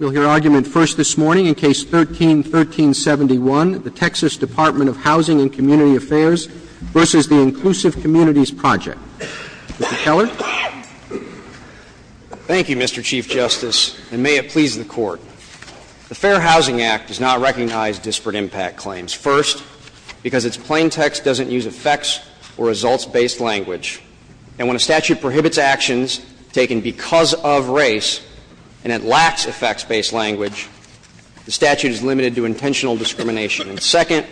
We'll hear argument first this morning in Case 13-1371, the Texas Department of Housing and Community Affairs v. the Inclusive Communities Project. Mr. Keller? Thank you, Mr. Chief Justice, and may it please the Court. The Fair Housing Act does not recognize disparate impact claims, first, because its plain text doesn't use effects or results-based language. And when a statute prohibits actions taken because of race, and it lacks effects-based language, the statute is limited to intentional discrimination. And second,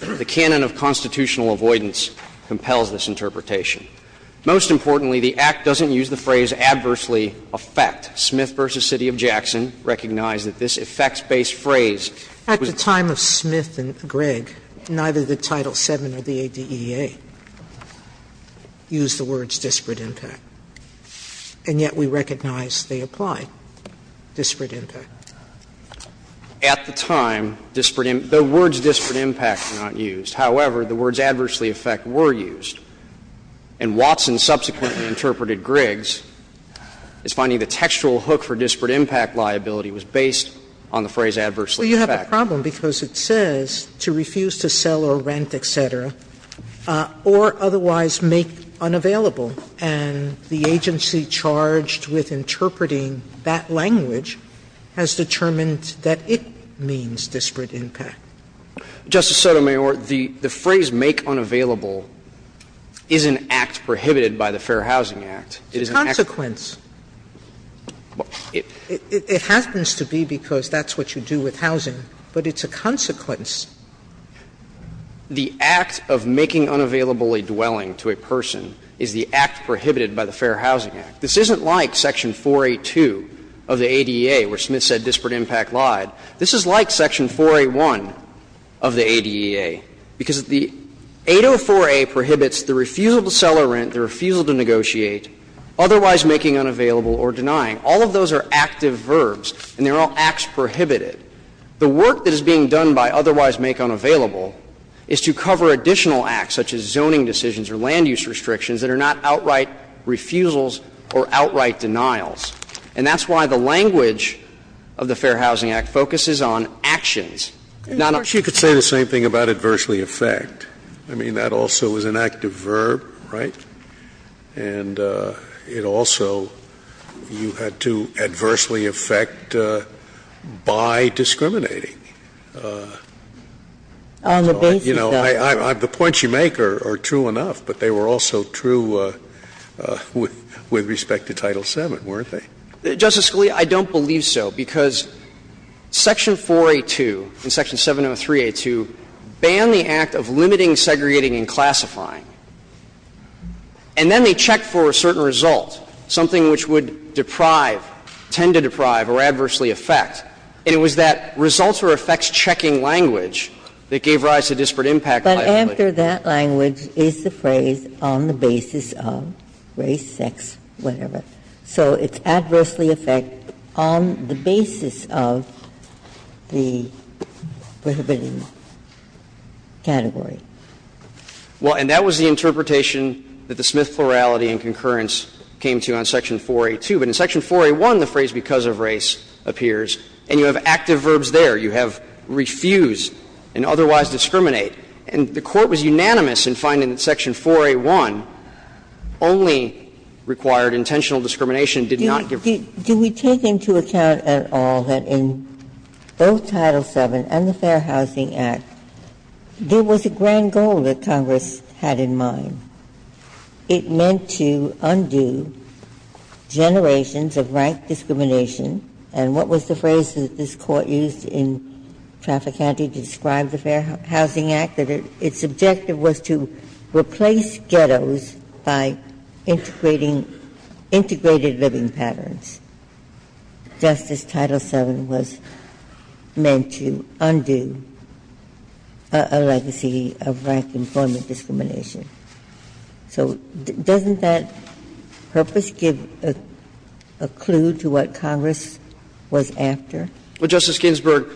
the canon of constitutional avoidance compels this interpretation. Most importantly, the Act doesn't use the phrase, adversely affect. Smith v. City of Jackson recognized that this effects-based phrase was At the time of Smith and Gregg, neither the Title VII or the ADEA used the words disparate impact, and yet we recognize they apply. Disparate impact. At the time, disparate impact – the words disparate impact were not used. However, the words adversely affect were used. And Watson subsequently interpreted Gregg's as finding the textual hook for disparate impact liability was based on the phrase adversely affect. Well, you have a problem because it says to refuse to sell or rent, et cetera, or otherwise make unavailable. And the agency charged with interpreting that language has determined that it means disparate impact. Justice Sotomayor, the phrase make unavailable is an act prohibited by the Fair Housing Act. It is an act that prohibits that. It's a consequence. It happens to be because that's what you do with housing, but it's a consequence. The act of making unavailable a dwelling to a person is the act prohibited by the Fair Housing Act. This isn't like section 482 of the ADEA, where Smith said disparate impact lied. This is like section 481 of the ADEA, because the 804A prohibits the refusal to sell or rent, the refusal to negotiate, otherwise making unavailable or denying. All of those are active verbs, and they're all acts prohibited. The work that is being done by otherwise make unavailable is to cover additional acts, such as zoning decisions or land use restrictions, that are not outright refusals or outright denials. And that's why the language of the Fair Housing Act focuses on actions, not on acts. Scalia. But you could say the same thing about adversely affect. I mean, that also is an active verb, right? And it also, you had to adversely affect by discriminating. You know, the points you make are true enough, but they were also true with respect to Title VII, weren't they? Justice Scalia, I don't believe so, because section 482 and section 703A2 ban the act of limiting, segregating, and classifying. And then they checked for a certain result, something which would deprive, tend to deprive, or adversely affect. And it was that results or effects checking language that gave rise to disparate impact liability. Ginsburg. But after that language is the phrase, on the basis of race, sex, whatever. So it's adversely affect on the basis of the prohibiting category. Well, and that was the interpretation that the Smith plurality and concurrence came to on section 482. But in section 481, the phrase because of race appears, and you have active verbs there. You have refuse and otherwise discriminate. And the Court was unanimous in finding that section 481 only required intentional discrimination, did not give. Ginsburg. Do we take into account at all that in both Title VII and the Fair Housing Act, there was a grand goal that Congress had in mind? It meant to undo generations of rank discrimination. And what was the phrase that this Court used in Traffick County to describe the Fair Housing Act? That its objective was to replace ghettos by integrating integrated living patterns. Justice Title VII was meant to undo a legacy of rank employment discrimination. So doesn't that purpose give a clue to what Congress was after? Well, Justice Ginsburg,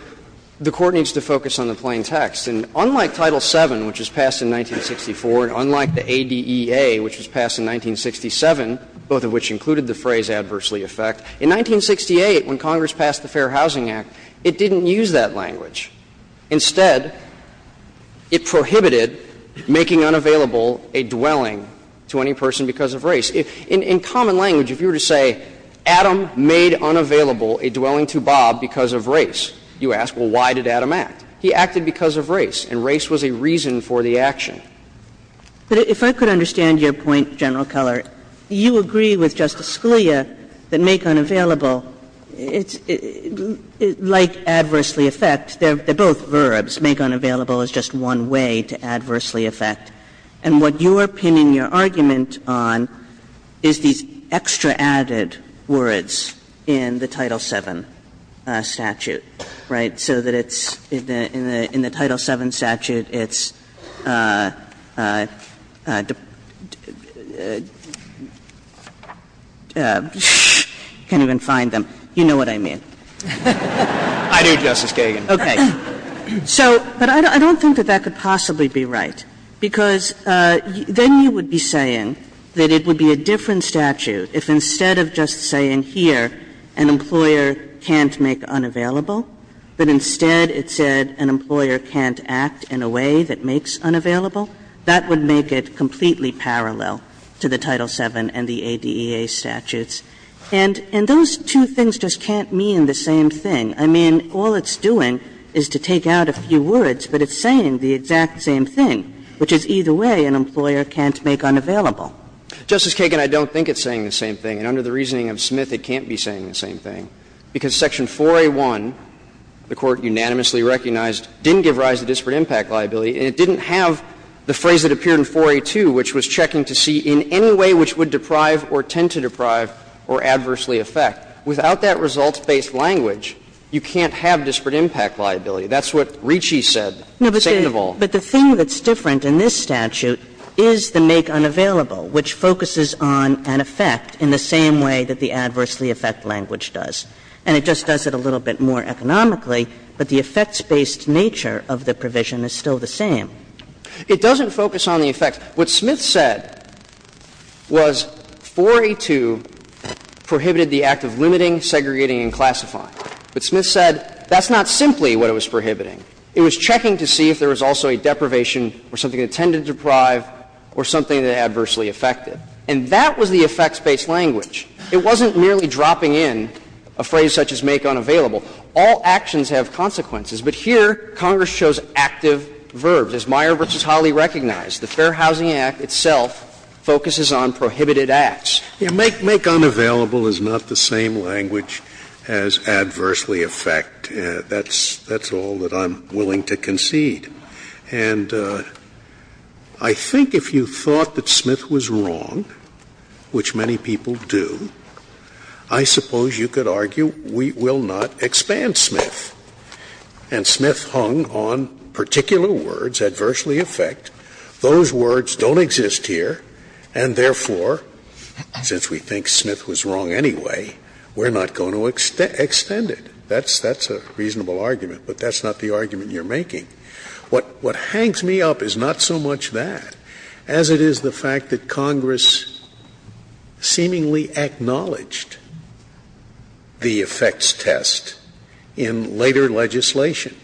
the Court needs to focus on the plain text. And unlike Title VII, which was passed in 1964, and unlike the ADEA, which was passed in 1967, both of which included the phrase, adversely affect, in 1968, when Congress passed the Fair Housing Act, it didn't use that language. Instead, it prohibited making unavailable a dwelling to any person because of race. In common language, if you were to say, Adam made unavailable a dwelling to Bob because of race, you ask, well, why did Adam act? He acted because of race, and race was a reason for the action. But if I could understand your point, General Keller, you agree with Justice Kagan that both verbs, make unavailable, is just one way to adversely affect. And what you are pinning your argument on is these extra added words in the Title VII statute, right, so that it's in the Title VII statute, it's the ---- I can't even find them. You know what I mean. I do, Justice Kagan. Kagan. So, but I don't think that that could possibly be right, because then you would be saying that it would be a different statute if instead of just saying here, an employer can't make unavailable, but instead it said an employer can't act in a way that makes unavailable, that would make it completely parallel to the Title VII and the ADEA statutes. And those two things just can't mean the same thing. I mean, all it's doing is to take out a few words, but it's saying the exact same thing, which is either way an employer can't make unavailable. Justice Kagan, I don't think it's saying the same thing, and under the reasoning of Smith it can't be saying the same thing, because Section 4A.1, the Court unanimously recognized, didn't give rise to disparate impact liability, and it didn't have the phrase that appeared in 4A.2, which was checking to see in any way which would deprive or tend to deprive or adversely affect. Without that results-based language, you can't have disparate impact liability. That's what Ricci said, second of all. But the thing that's different in this statute is the make unavailable, which focuses on an effect in the same way that the adversely affect language does. And it just does it a little bit more economically, but the effects-based nature of the provision is still the same. It doesn't focus on the effect. What Smith said was 4A.2 prohibited the act of limiting, segregating, and classifying. What Smith said, that's not simply what it was prohibiting. It was checking to see if there was also a deprivation or something that tended to deprive or something that adversely affected. And that was the effects-based language. It wasn't merely dropping in a phrase such as make unavailable. All actions have consequences, but here Congress chose active verbs. But as Meyer v. Holley recognized, the Fair Housing Act itself focuses on prohibited acts. Scalia, make unavailable is not the same language as adversely affect. That's all that I'm willing to concede. And I think if you thought that Smith was wrong, which many people do, I suppose you could argue we will not expand Smith. And Smith hung on particular words, adversely affect. Those words don't exist here, and therefore, since we think Smith was wrong anyway, we're not going to extend it. That's a reasonable argument, but that's not the argument you're making. What hangs me up is not so much that as it is the fact that Congress seemingly acknowledged the effects test in later legislation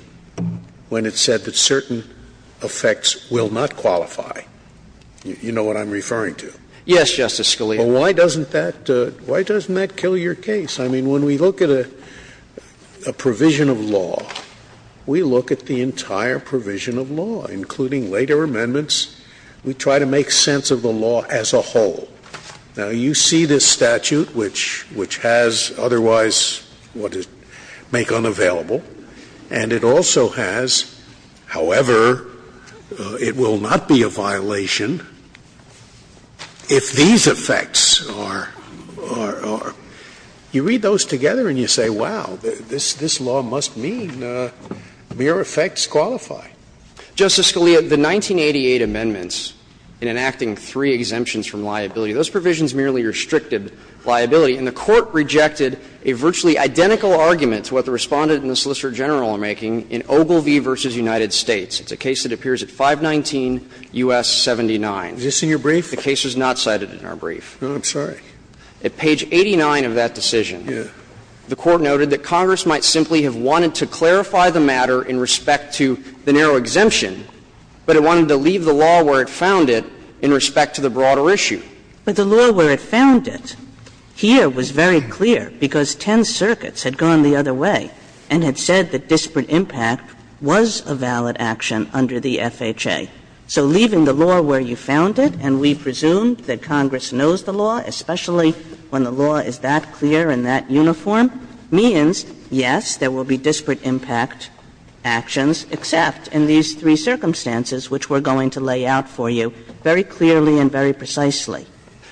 when it said that certain effects will not qualify. You know what I'm referring to? Yes, Justice Scalia. Well, why doesn't that kill your case? I mean, when we look at a provision of law, we look at the entire provision of law, including later amendments. We try to make sense of the law as a whole. Now, you see this statute, which has otherwise what is make unavailable, and it also has, however, it will not be a violation if these effects are or you read those together and you say, wow, this law must mean mere effects qualify. Justice Scalia, the 1988 amendments in enacting three exemptions from liability, those provisions merely restricted liability, and the Court rejected a virtually identical argument to what the Respondent and the Solicitor General are making in Ogilvie v. United States. It's a case that appears at 519 U.S. 79. Is this in your brief? The case is not cited in our brief. Oh, I'm sorry. At page 89 of that decision, the Court noted that Congress might simply have wanted to clarify the matter in respect to the narrow exemption, but it wanted to leave the law where it found it in respect to the broader issue. But the law where it found it here was very clear because 10 circuits had gone the other way and had said that disparate impact was a valid action under the FHA. So leaving the law where you found it, and we presume that Congress knows the law, especially when the law is that clear and that uniform, means, yes, there will be disparate impact actions, except in these three circumstances, which we're going to lay out for you very clearly and very precisely.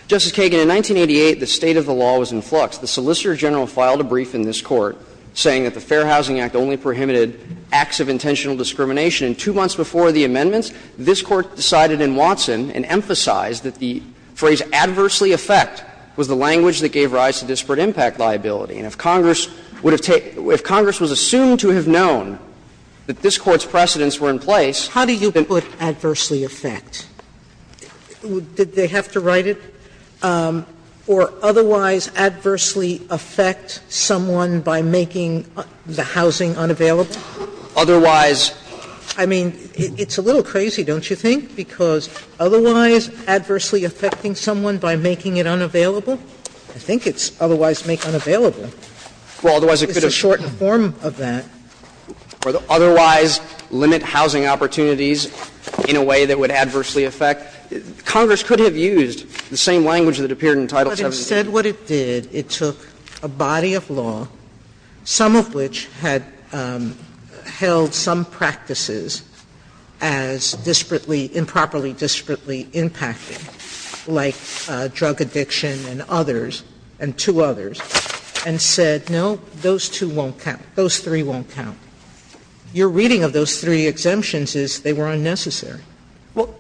Justice Kagan, in 1988, the state of the law was in flux. The Solicitor General filed a brief in this Court saying that the Fair Housing Act only prohibited acts of intentional discrimination. Two months before the amendments, this Court decided in Watson and emphasized that the phrase ''adversely affect'' was the language that gave rise to disparate impact liability. And if Congress would have taken – if Congress was assumed to have known that this Court's precedents were in place, then— Sotomayor, how do you put ''adversely affect''? Did they have to write it? Or otherwise adversely affect someone by making the housing unavailable? Otherwise. I mean, it's a little crazy, don't you think, because otherwise adversely affecting someone by making it unavailable? I think it's otherwise make unavailable. It's a shortened form of that. Otherwise limit housing opportunities in a way that would adversely affect. Congress could have used the same language that appeared in Title VII. But instead what it did, it took a body of law, some of which had held some practices as disparately, improperly disparately impacting, like drug addiction and others, and two others, and said, no, those two won't count, those three won't count. Your reading of those three exemptions is they were unnecessary. Well,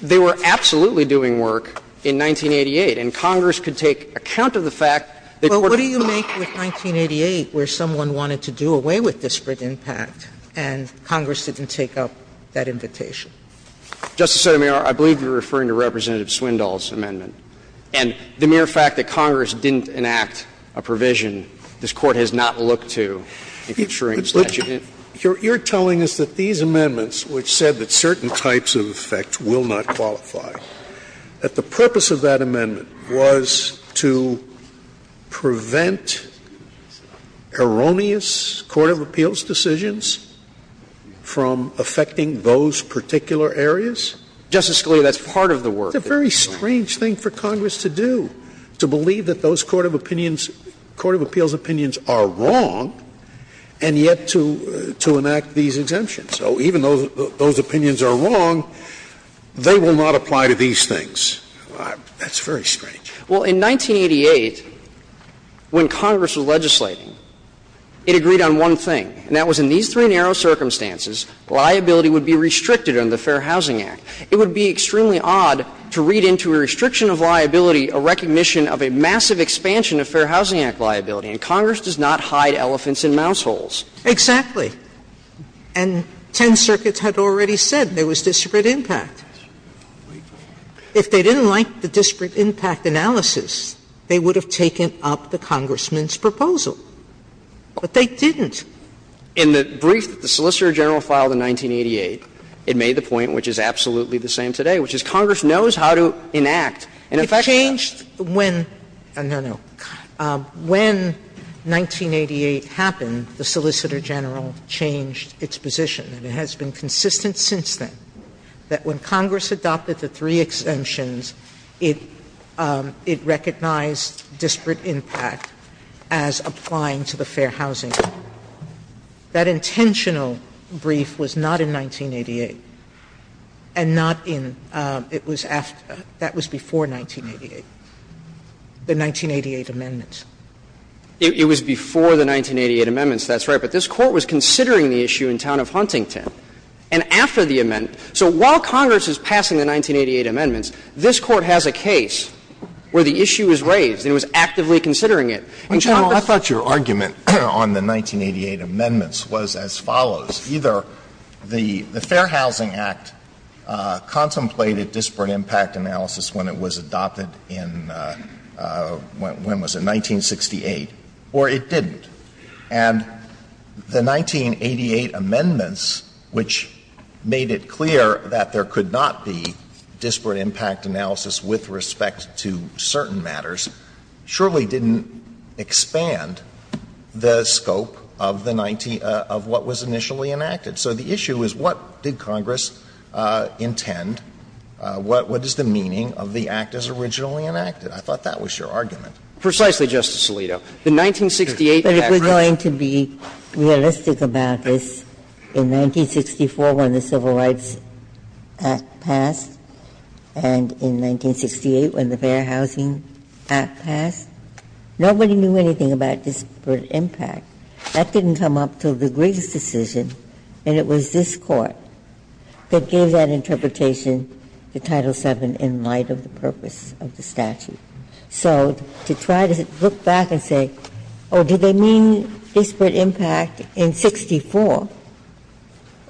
they were absolutely doing work in 1988, and Congress could take account of the fact that— Well, what do you make with 1988 where someone wanted to do away with disparate impact and Congress didn't take up that invitation? Justice Sotomayor, I believe you're referring to Representative Swindoll's amendment. And the mere fact that Congress didn't enact a provision, this Court has not looked to in ensuring that you didn't. You're telling us that these amendments, which said that certain types of effect will not qualify, that the purpose of that amendment was to prevent erroneous Court of Appeals decisions from affecting those particular areas? Justice Scalia, that's part of the work. It's a very strange thing for Congress to do, to believe that those Court of Opinions —Court of Appeals opinions are wrong, and yet to enact these exemptions. So even though those opinions are wrong, they will not apply to these things. That's very strange. Well, in 1988, when Congress was legislating, it agreed on one thing, and that was in these three narrow circumstances, liability would be restricted under the Fair Housing Act. It would be extremely odd to read into a restriction of liability a recognition of a massive expansion of Fair Housing Act liability, and Congress does not hide elephants in mouse holes. Exactly. And Ten Circuits had already said there was disparate impact. If they didn't like the disparate impact analysis, they would have taken up the Congressman's proposal. But they didn't. In the brief that the Solicitor General filed in 1988, it made the point, which is absolutely the same today, which is Congress knows how to enact an effect. It changed when — no, no. When 1988 happened, the Solicitor General changed its position, and it has been consistent since then, that when Congress adopted the three exemptions, it recognized disparate impact as applying to the Fair Housing Act. That intentional brief was not in 1988, and not in — it was after — that was before 1988, the 1988 amendments. It was before the 1988 amendments, that's right. But this Court was considering the issue in town of Huntington. And after the amend — so while Congress is passing the 1988 amendments, this Court has a case where the issue is raised, and it was actively considering it. Alitoso, I thought your argument on the 1988 amendments was as follows. Either the Fair Housing Act contemplated disparate impact analysis when it was adopted in — when was it, 1968, or it didn't. And the 1988 amendments, which made it clear that there could not be disparate impact analysis with respect to certain matters, surely didn't expand the scope of the — of what was initially enacted. So the issue is what did Congress intend, what is the meaning of the act as originally enacted? I thought that was your argument. Precisely, Justice Alito. The 1968 Act was — Ginsburg. But if we're going to be realistic about this, in 1964 when the Civil Rights Act passed and in 1968 when the Fair Housing Act passed, nobody knew anything about disparate impact. That didn't come up until the Griggs decision, and it was this Court that gave that interpretation to Title VII in light of the purpose of the statute. So to try to look back and say, oh, did they mean disparate impact in 64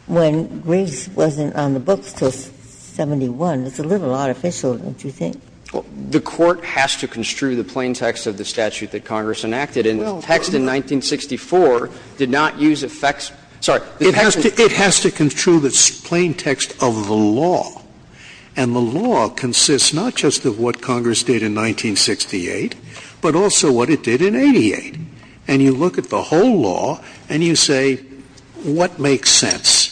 when Griggs wasn't on the books until 71, it's a little artificial, don't you think? Well, the Court has to construe the plain text of the statute that Congress enacted. And the text in 1964 did not use effects — sorry. It has to construe the plain text of the law, and the law consists not just of what Congress did in 1968, but also what it did in 88. And you look at the whole law and you say, what makes sense?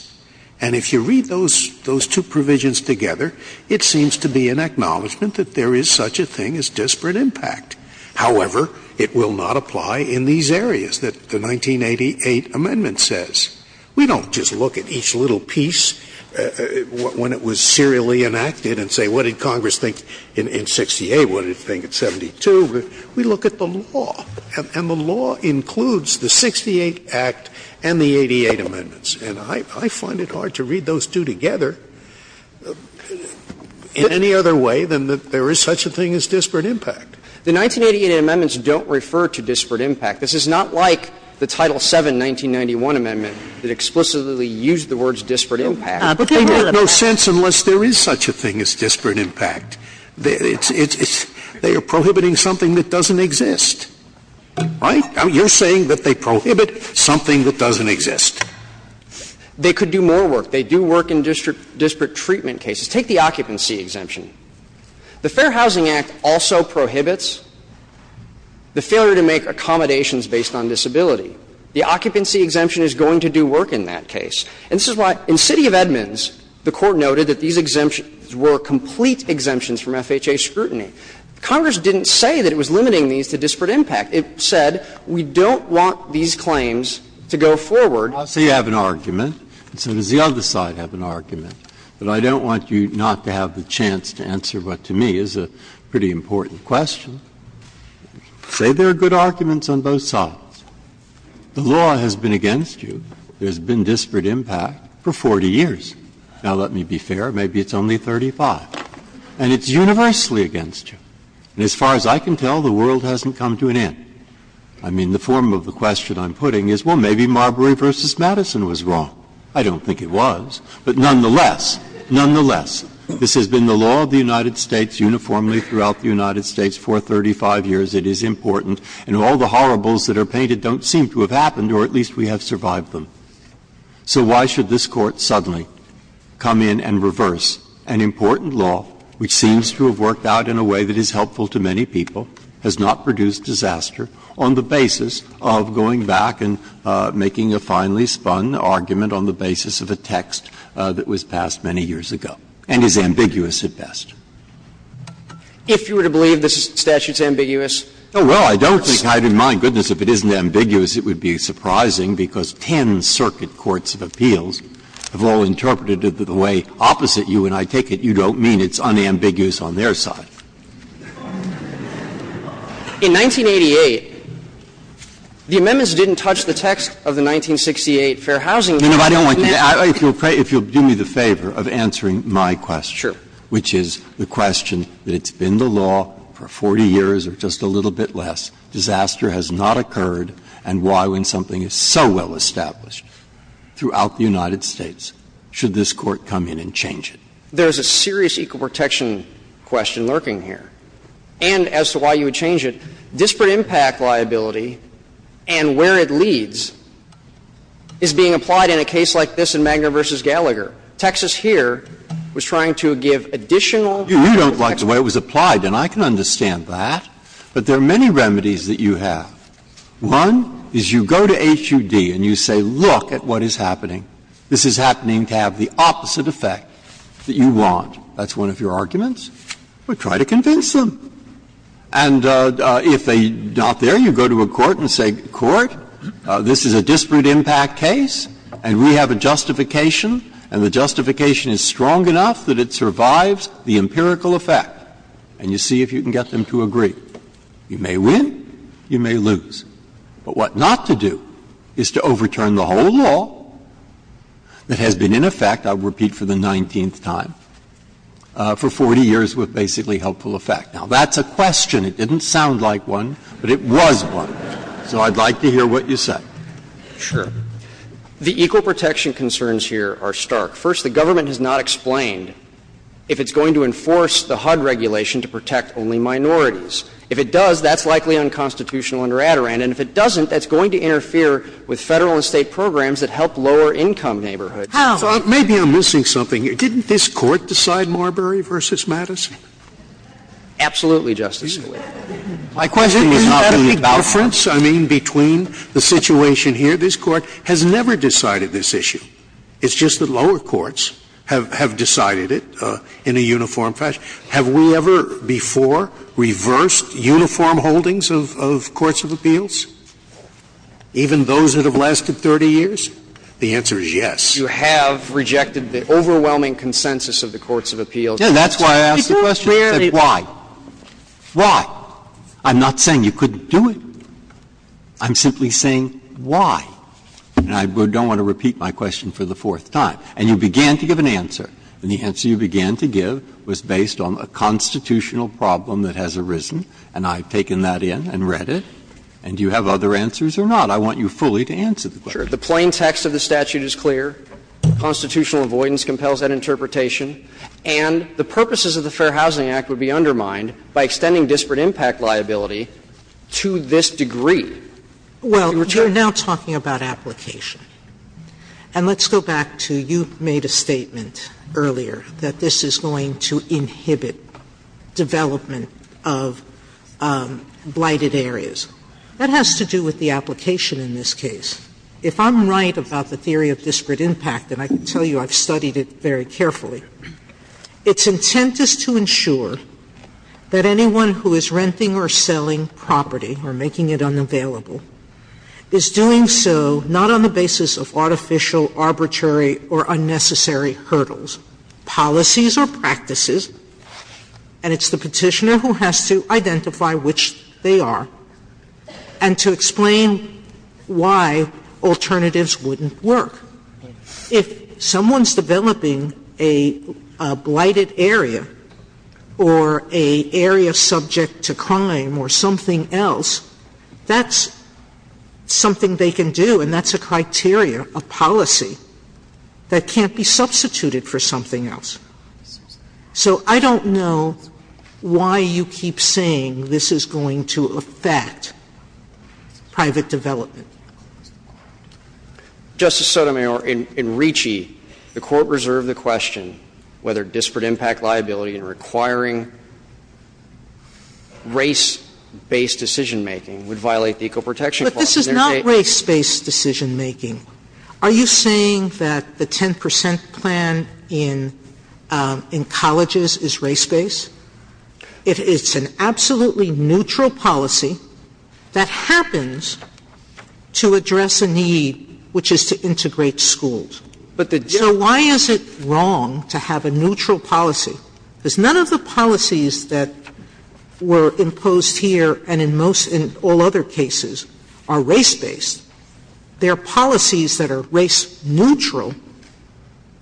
And if you read those two provisions together, it seems to be an acknowledgment that there is such a thing as disparate impact. However, it will not apply in these areas that the 1988 amendment says. We don't just look at each little piece when it was serially enacted and say, what did Congress think in 68, what did it think in 72? We look at the law, and the law includes the 68 Act and the 88 amendments. And I find it hard to read those two together in any other way than that there is such a thing as disparate impact. The 1988 amendments don't refer to disparate impact. This is not like the Title VII 1991 amendment that explicitly used the words disparate impact. But there is no sense unless there is such a thing as disparate impact. It's they are prohibiting something that doesn't exist, right? You're saying that they prohibit something that doesn't exist. They could do more work. They do work in district treatment cases. Take the occupancy exemption. The Fair Housing Act also prohibits the failure to make accommodations based on disability. The occupancy exemption is going to do work in that case. And this is why in City of Edmonds, the Court noted that these exemptions were complete exemptions from FHA scrutiny. Congress didn't say that it was limiting these to disparate impact. It said we don't want these claims to go forward. Breyer, I'll say you have an argument, and so does the other side have an argument. But I don't want you not to have the chance to answer what to me is a pretty important question. Say there are good arguments on both sides. The law has been against you. There's been disparate impact for 40 years. Now, let me be fair. Maybe it's only 35. And it's universally against you. And as far as I can tell, the world hasn't come to an end. I mean, the form of the question I'm putting is, well, maybe Marbury v. Madison was wrong. I don't think it was. But nonetheless, nonetheless, this has been the law of the United States uniformly throughout the United States for 35 years. It is important. And all the horribles that are painted don't seem to have happened, or at least we have survived them. So why should this Court suddenly come in and reverse an important law which seems to have worked out in a way that is helpful to many people, has not produced disaster, on the basis of going back and making a finely spun argument on the basis of a text that was passed many years ago, and is ambiguous at best? If you were to believe the statute's ambiguous? Oh, well, I don't think I'd mind. And, oh, my goodness, if it isn't ambiguous, it would be surprising, because 10 circuit courts of appeals have all interpreted it the way opposite you, and I take it you don't mean it's unambiguous on their side. In 1988, the amendments didn't touch the text of the 1968 Fair Housing Act. No, no, I don't want you to. If you'll do me the favor of answering my question. Sure. Which is the question that it's been the law for 40 years or just a little bit less. Disaster has not occurred, and why, when something is so well established throughout the United States, should this Court come in and change it? There's a serious equal protection question lurking here. And as to why you would change it, disparate impact liability and where it leads is being applied in a case like this in Magner v. Gallagher. Texas here was trying to give additional power to Texas. You don't like the way it was applied, and I can understand that. But there are many remedies that you have. One is you go to HUD and you say, look at what is happening. This is happening to have the opposite effect that you want. That's one of your arguments. Well, try to convince them. And if they're not there, you go to a court and say, court, this is a disparate impact case and we have a justification, and the justification is strong enough that it survives the empirical effect. And you see if you can get them to agree. You may win, you may lose. But what not to do is to overturn the whole law that has been in effect, I'll repeat for the 19th time, for 40 years with basically helpful effect. Now, that's a question. It didn't sound like one, but it was one. So I'd like to hear what you say. Sure. The equal protection concerns here are stark. First, the government has not explained if it's going to enforce the HUD regulation to protect only minorities. If it does, that's likely unconstitutional under Adirondack. And if it doesn't, that's going to interfere with Federal and State programs that help lower-income neighborhoods. How? So maybe I'm missing something here. Didn't this Court decide Marbury v. Madison? Absolutely, Justice Scalia. My question is not about that. Isn't that a big difference, I mean, between the situation here? This Court has never decided this issue. It's just that lower courts have decided it in a uniform fashion. Have we ever before reversed uniform holdings of courts of appeals? Even those that have lasted 30 years? The answer is yes. You have rejected the overwhelming consensus of the courts of appeals. Yeah, that's why I asked the question. Why? Why? I'm not saying you couldn't do it. I'm simply saying why. And I don't want to repeat my question for the fourth time. And you began to give an answer. And the answer you began to give was based on a constitutional problem that has arisen, and I've taken that in and read it. And do you have other answers or not? I want you fully to answer the question. Sure. The plain text of the statute is clear. Constitutional avoidance compels that interpretation. And the purposes of the Fair Housing Act would be undermined by extending disparate impact liability to this degree. Well, you're now talking about application. And let's go back to you made a statement earlier that this is going to inhibit development of blighted areas. That has to do with the application in this case. If I'm right about the theory of disparate impact, and I can tell you I've studied it very carefully, its intent is to ensure that anyone who is renting or selling property or making it unavailable is doing so not on the basis of the fact that it's not the basis of artificial, arbitrary, or unnecessary hurdles, policies or practices, and it's the Petitioner who has to identify which they are, and to explain why alternatives wouldn't work. If someone's developing a blighted area or an area subject to crime or something else, that's something they can do, and that's a criteria, a policy that can't be substituted for something else. So I don't know why you keep saying this is going to affect private development. Justice Sotomayor, in Ricci, the Court reserved the question whether disparate impact liability in requiring race-based decision-making would violate the Ecoprotection Clause. But this is not race-based decision-making. Are you saying that the 10 percent plan in colleges is race-based? It's an absolutely neutral policy that happens to address a need, which is to integrate schools. So why is it wrong to have a neutral policy? Because none of the policies that were imposed here and in most of all other cases are race-based. There are policies that are race-neutral,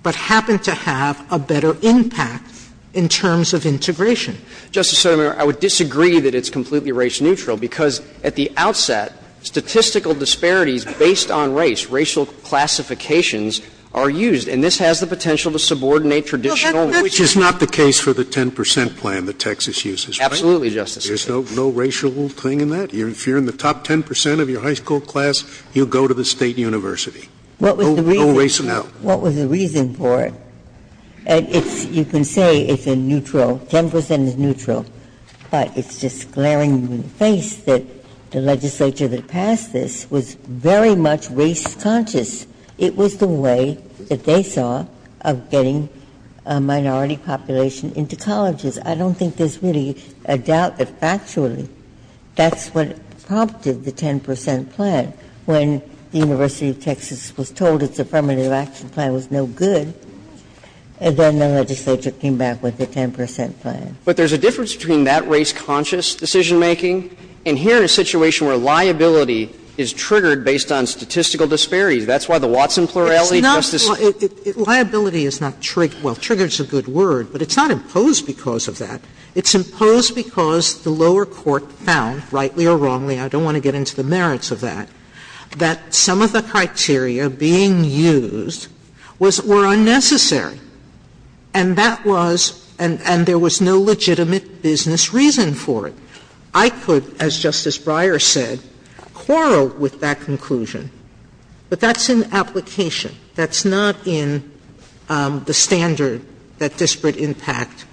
but happen to have a better impact in terms of integration. Justice Sotomayor, I would disagree that it's completely race-neutral, because at the outset, statistical disparities based on race, racial classifications are used. And this has the potential to subordinate traditional racial classifications. Scalia, which is not the case for the 10 percent plan that Texas uses, right? Absolutely, Justice Sotomayor. There's no racial thing in that? If you're in the top 10 percent of your high school class, you go to the state university. No race at all. What was the reason for it? And it's you can say it's a neutral, 10 percent is neutral, but it's just glaring in the face that the legislature that passed this was very much race conscious. It was the way that they saw of getting a minority population into colleges. I don't think there's really a doubt that factually that's what prompted the 10 percent plan when the University of Texas was told its affirmative action plan was no good, and then the legislature came back with the 10 percent plan. But there's a difference between that race conscious decision making and here in a situation where liability is triggered based on statistical disparities. That's why the Watson plurality, Justice Sotomayor. Liability is not triggered. Well, triggered is a good word, but it's not imposed because of that. It's imposed because the lower court found, rightly or wrongly, I don't want to get into the merits of that, that some of the criteria being used was unnecessary, and that was and there was no legitimate business reason for it. I could, as Justice Breyer said, quarrel with that conclusion, but that's an application. That's not in the standard that disparate impact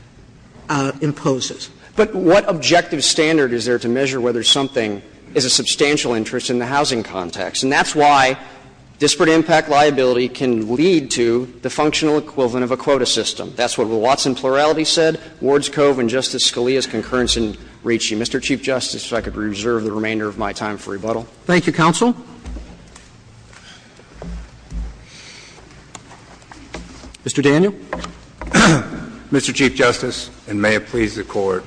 imposes. But what objective standard is there to measure whether something is a substantial interest in the housing context? And that's why disparate impact liability can lead to the functional equivalent of a quota system. That's what the Watson plurality said. Ward's Cove and Justice Scalia's concurrence in reaching. Mr. Chief Justice, if I could reserve the remainder of my time for rebuttal. Roberts. Thank you, counsel. Mr. Daniel. Mr. Chief Justice, and may it please the Court.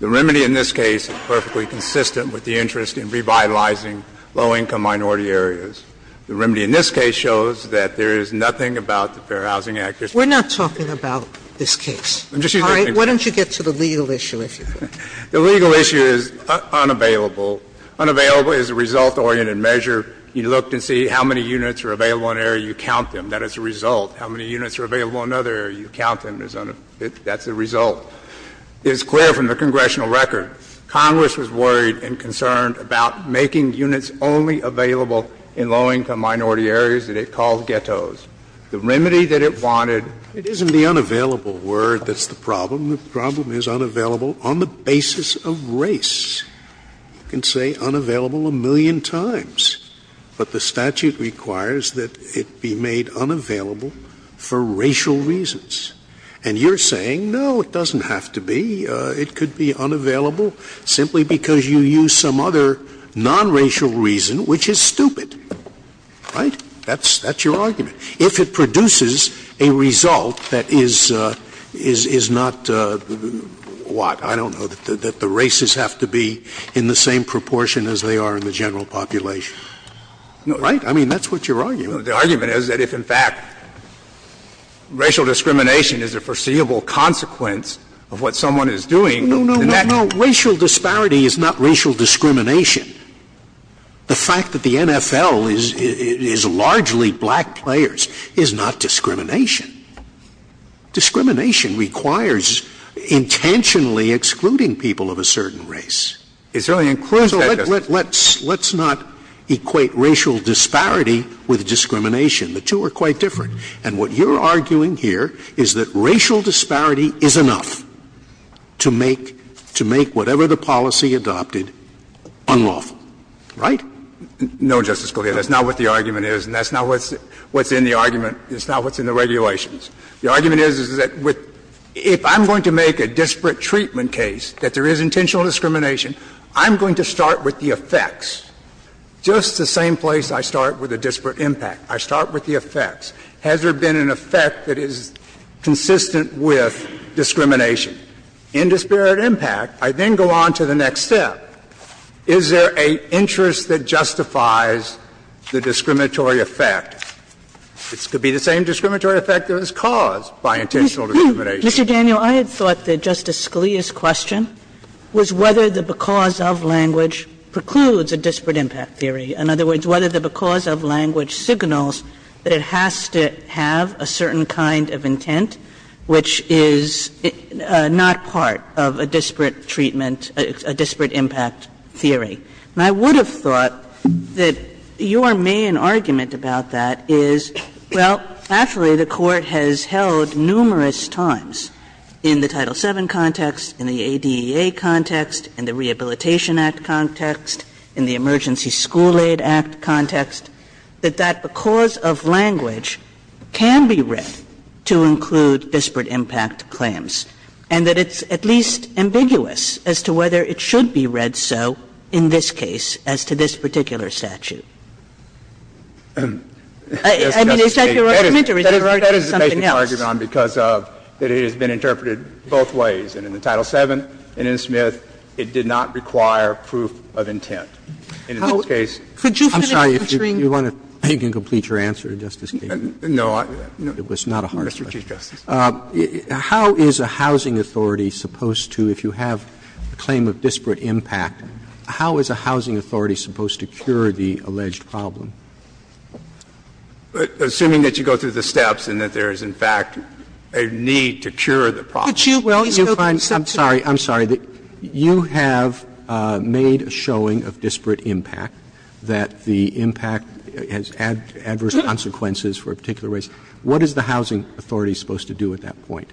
The remedy in this case is perfectly consistent with the interest in revitalizing low income minority areas. The remedy in this case shows that there is nothing about the Fair Housing Act that is particularly consistent. We're not talking about this case. I'm just using the name. Sotomayor, why don't you get to the legal issue, if you could. The legal issue is unavailable. Unavailable is a result-oriented measure. You looked and see how many units are available in an area, you count them. That is the result. How many units are available in another area, you count them. That's the result. It's clear from the congressional record, Congress was worried and concerned about making units only available in low income minority areas that it called ghettos. The remedy that it wanted. It isn't the unavailable word that's the problem. The problem is unavailable on the basis of race. You can say unavailable a million times, but the statute requires that it be made unavailable for racial reasons. And you're saying, no, it doesn't have to be. It could be unavailable simply because you use some other nonracial reason, which is stupid. Right? That's your argument. If it produces a result that is not what? I don't know, that the races have to be in the same proportion as they are in the general population. Right? I mean, that's what your argument is. The argument is that if, in fact, racial discrimination is a foreseeable consequence of what someone is doing, then that's the problem. No, no, no, racial disparity is not racial discrimination. The fact that the NFL is largely black players is not discrimination. Discrimination requires intentionally excluding people of a certain race. It's really inclusive. Let's not equate racial disparity with discrimination. The two are quite different. And what you're arguing here is that racial disparity is enough to make whatever the policy adopted unlawful. Right? No, Justice Scalia, that's not what the argument is, and that's not what's in the argument. It's not what's in the regulations. The argument is, is that if I'm going to make a disparate treatment case, that there is intentional discrimination, I'm going to start with the effects. Just the same place I start with a disparate impact, I start with the effects. Has there been an effect that is consistent with discrimination? In disparate impact, I then go on to the next step. Is there an interest that justifies the discriminatory effect? It could be the same discriminatory effect that is caused by intentional discrimination. Mr. Daniel, I had thought that Justice Scalia's question was whether the because of language precludes a disparate impact theory. In other words, whether the because of language signals that it has to have a certain kind of intent which is not part of a disparate treatment, a disparate impact theory. And I would have thought that your main argument about that is, well, actually, the Court has held numerous times in the Title VII context, in the ADEA context, in the Rehabilitation Act context, in the Emergency School Aid Act context, that that because of language can be read to include disparate impact claims, and that it's at least ambiguous as to whether it should be read so in this case as to this particular statute. I mean, is that your argument or is there already something else? That is the basic argument because of that it has been interpreted both ways. And in the Title VII and in Smith, it did not require proof of intent. In this case, I'm sorry. If you want to, you can complete your answer, Justice Kagan. It was not a hard question. How is a housing authority supposed to, if you have a claim of disparate impact, how is a housing authority supposed to cure the alleged problem? Assuming that you go through the steps and that there is, in fact, a need to cure the problem. Could you, well, you find, I'm sorry, I'm sorry, you have made a showing of disparate impact, that the impact has adverse consequences for a particular race. What is the housing authority supposed to do at that point?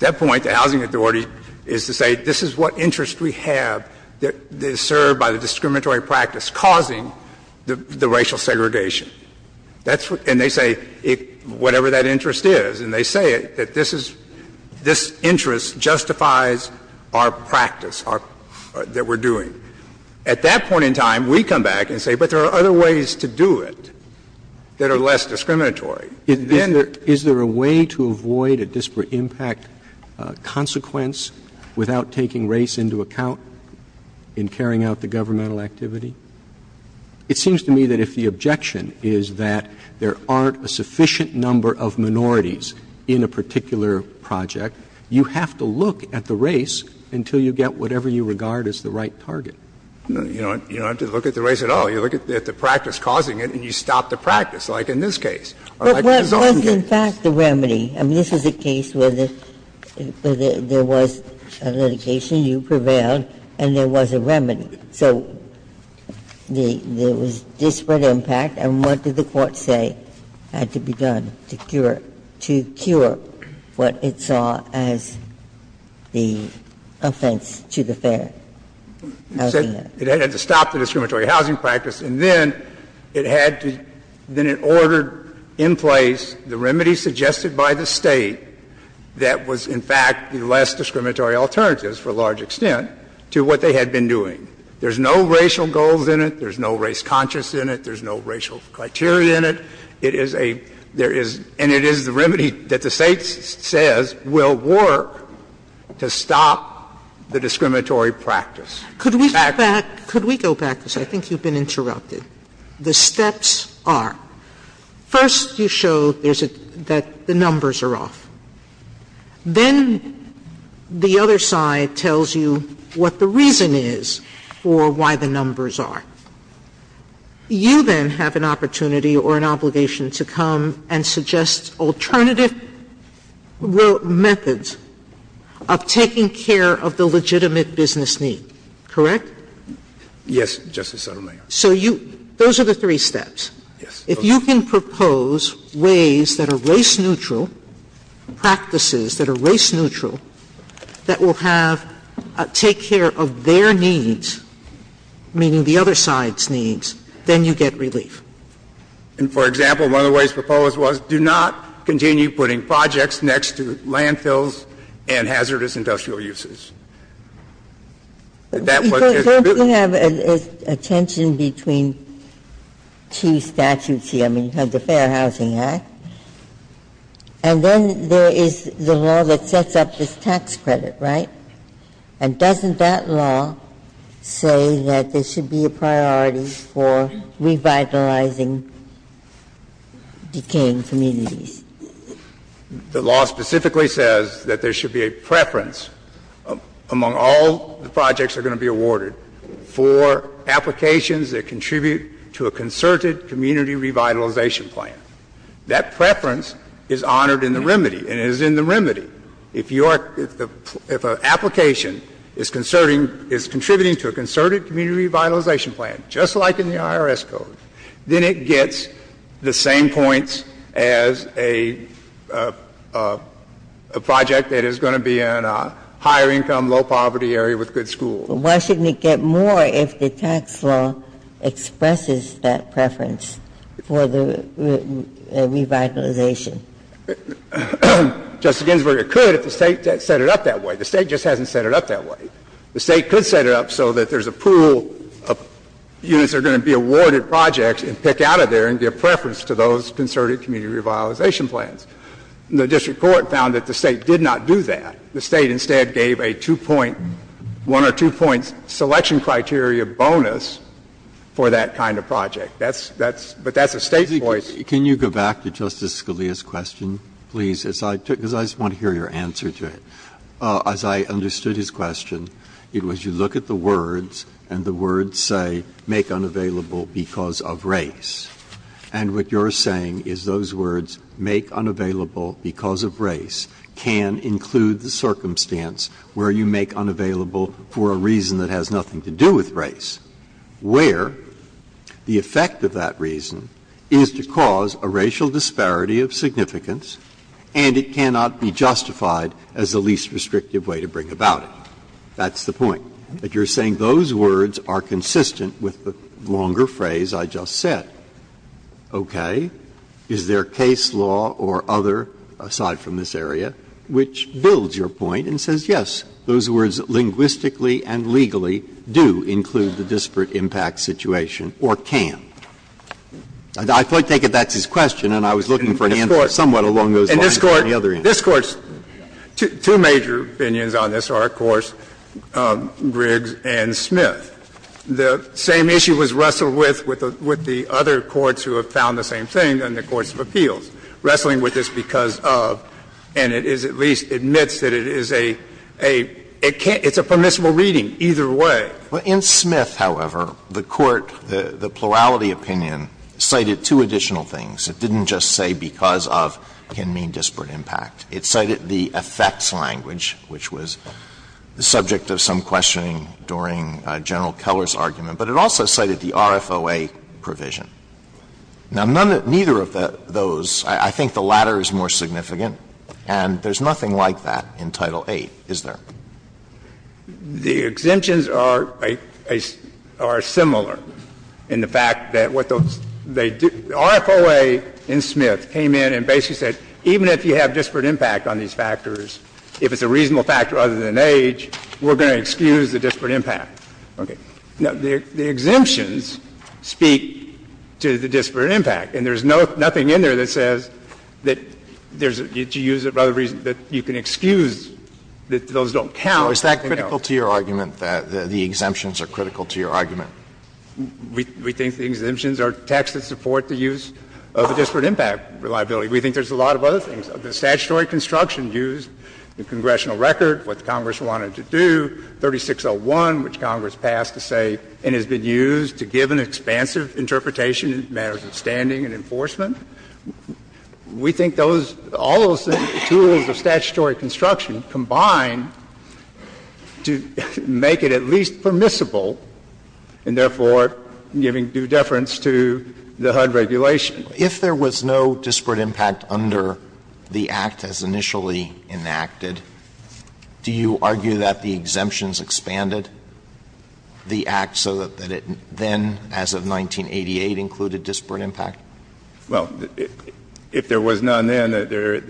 That point, the housing authority is to say this is what interest we have that is served by the discriminatory practice causing the racial segregation. That's what they say, whatever that interest is, and they say it, that this is, this interest justifies our practice, our, that we're doing. At that point in time, we come back and say, but there are other ways to do it that are less discriminatory. And then there is a way to avoid a disparate impact consequence without taking race into account in carrying out the governmental activity? It seems to me that if the objection is that there aren't a sufficient number of minorities in a particular project, you have to look at the race until you get whatever you regard as the right target. You don't have to look at the race at all. You look at the practice causing it, and you stop the practice, like in this case or like in his own case. Ginsburg, But what was, in fact, the remedy? I mean, this is a case where there was a litigation, you prevailed, and there was a remedy. So there was disparate impact, and what did the Court say had to be done to cure what it saw as the offense to the fair? It had to stop the discriminatory housing practice, and then it had to, then it ordered in place the remedy suggested by the State that was, in fact, the less discriminatory alternatives, for a large extent, to what they had been doing. There's no racial goals in it. There's no race conscience in it. There's no racial criteria in it. It is a, there is, and it is the remedy that the State says will work to stop the discriminatory practice. Could we go back, I think you've been interrupted. The steps are, first you show there's a, that the numbers are off. Then the other side tells you what the reason is for why the numbers are. You then have an opportunity or an obligation to come and suggest alternative methods of taking care of the legitimate business need, correct? Yes, Justice Sotomayor. So you, those are the three steps. Yes. If you can propose ways that are race neutral, practices that are race neutral, that will have, take care of their needs, meaning the other side's needs, then you get relief. And, for example, one of the ways proposed was do not continue putting projects next to landfills and hazardous industrial uses. That was just the building. Don't you have a tension between two statutes here? I mean, you have the Fair Housing Act. And then there is the law that sets up this tax credit, right? And doesn't that law say that there should be a priority for revitalizing decaying communities? The law specifically says that there should be a preference among all the projects that are going to be awarded for applications that contribute to a concerted community revitalization plan. That preference is honored in the remedy, and it is in the remedy. If you are, if an application is concerting, is contributing to a concerted community revitalization plan, just like in the IRS Code, then it gets the same points as a project that is going to be in a higher income, low poverty area with good schools. Why shouldn't it get more if the tax law expresses that preference for the revitalization? Justice Ginsburg, it could if the State set it up that way. The State just hasn't set it up that way. The State could set it up so that there is a pool of units that are going to be awarded projects and pick out of there and give preference to those concerted community revitalization plans. The district court found that the State did not do that. The State instead gave a two-point, one or two-point selection criteria bonus for that kind of project. That's, that's, but that's a State choice. Breyer. Breyer. Can you go back to Justice Scalia's question, please, because I just want to hear your answer to it. As I understood his question, it was you look at the words and the words say, make unavailable because of race. And what you are saying is those words, make unavailable because of race, can include the circumstance where you make unavailable for a reason that has nothing to do with race, where the effect of that reason is to cause a racial disparity of significance and it cannot be justified as the least restrictive way to bring about it. That's the point. That you are saying those words are consistent with the longer phrase I just said. Okay. Is there case law or other, aside from this area, which builds your point and says, yes, those words linguistically and legally do include the disparate impact situation or can? I take it that's his question and I was looking for an answer somewhat along those lines from the other answer. This Court's two major opinions on this are, of course, Griggs and Smith. The same issue was wrestled with, with the other courts who have found the same thing in the courts of appeals. Wrestling with this because of, and it is at least admits that it is a, a, it can't be, it's a permissible reading either way. Alito, in Smith, however, the court, the plurality opinion, cited two additional things. It didn't just say because of can mean disparate impact. It cited the effects language, which was the subject of some questioning during General Keller's argument, but it also cited the RFOA provision. Now, none, neither of those, I think the latter is more significant, and there's nothing like that in Title VIII, is there? The exemptions are, are similar in the fact that what those, they do, the RFOA in Smith came in and basically said even if you have disparate impact on these factors, if it's a reasonable factor other than age, we're going to excuse the disparate impact. Now, the exemptions speak to the disparate impact, and there's no, nothing in there that says that there's, that you can excuse that those don't count. Alito, is that critical to your argument, that the exemptions are critical to your argument? We think the exemptions are text that support the use of a disparate impact reliability. We think there's a lot of other things. The statutory construction used, the congressional record, what Congress wanted to do, 3601, which Congress passed to say and has been used to give an expansive interpretation in matters of standing and enforcement. We think those, all those tools of statutory construction combine to make it at least permissible, and therefore giving due deference to the HUD regulation. If there was no disparate impact under the Act as initially enacted, do you argue that the exemptions expanded the Act so that it then, as of 1988, included disparate impact? Well, if there was none then, there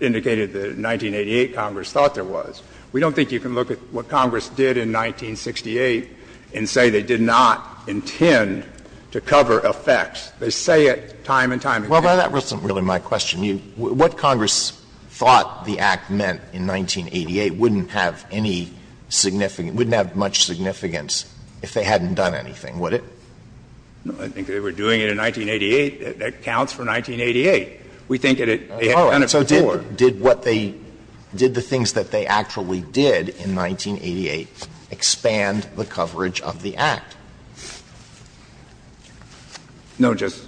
indicated that in 1988 Congress thought there was. We don't think you can look at what Congress did in 1968 and say they did not intend to cover effects. They say it time and time again. Well, that wasn't really my question. What Congress thought the Act meant in 1988 wouldn't have any significant – wouldn't have much significance if they hadn't done anything, would it? I think they were doing it in 1988. That counts for 1988. We think it had been done before. So did what they – did the things that they actually did in 1988 expand the coverage of the Act? No, just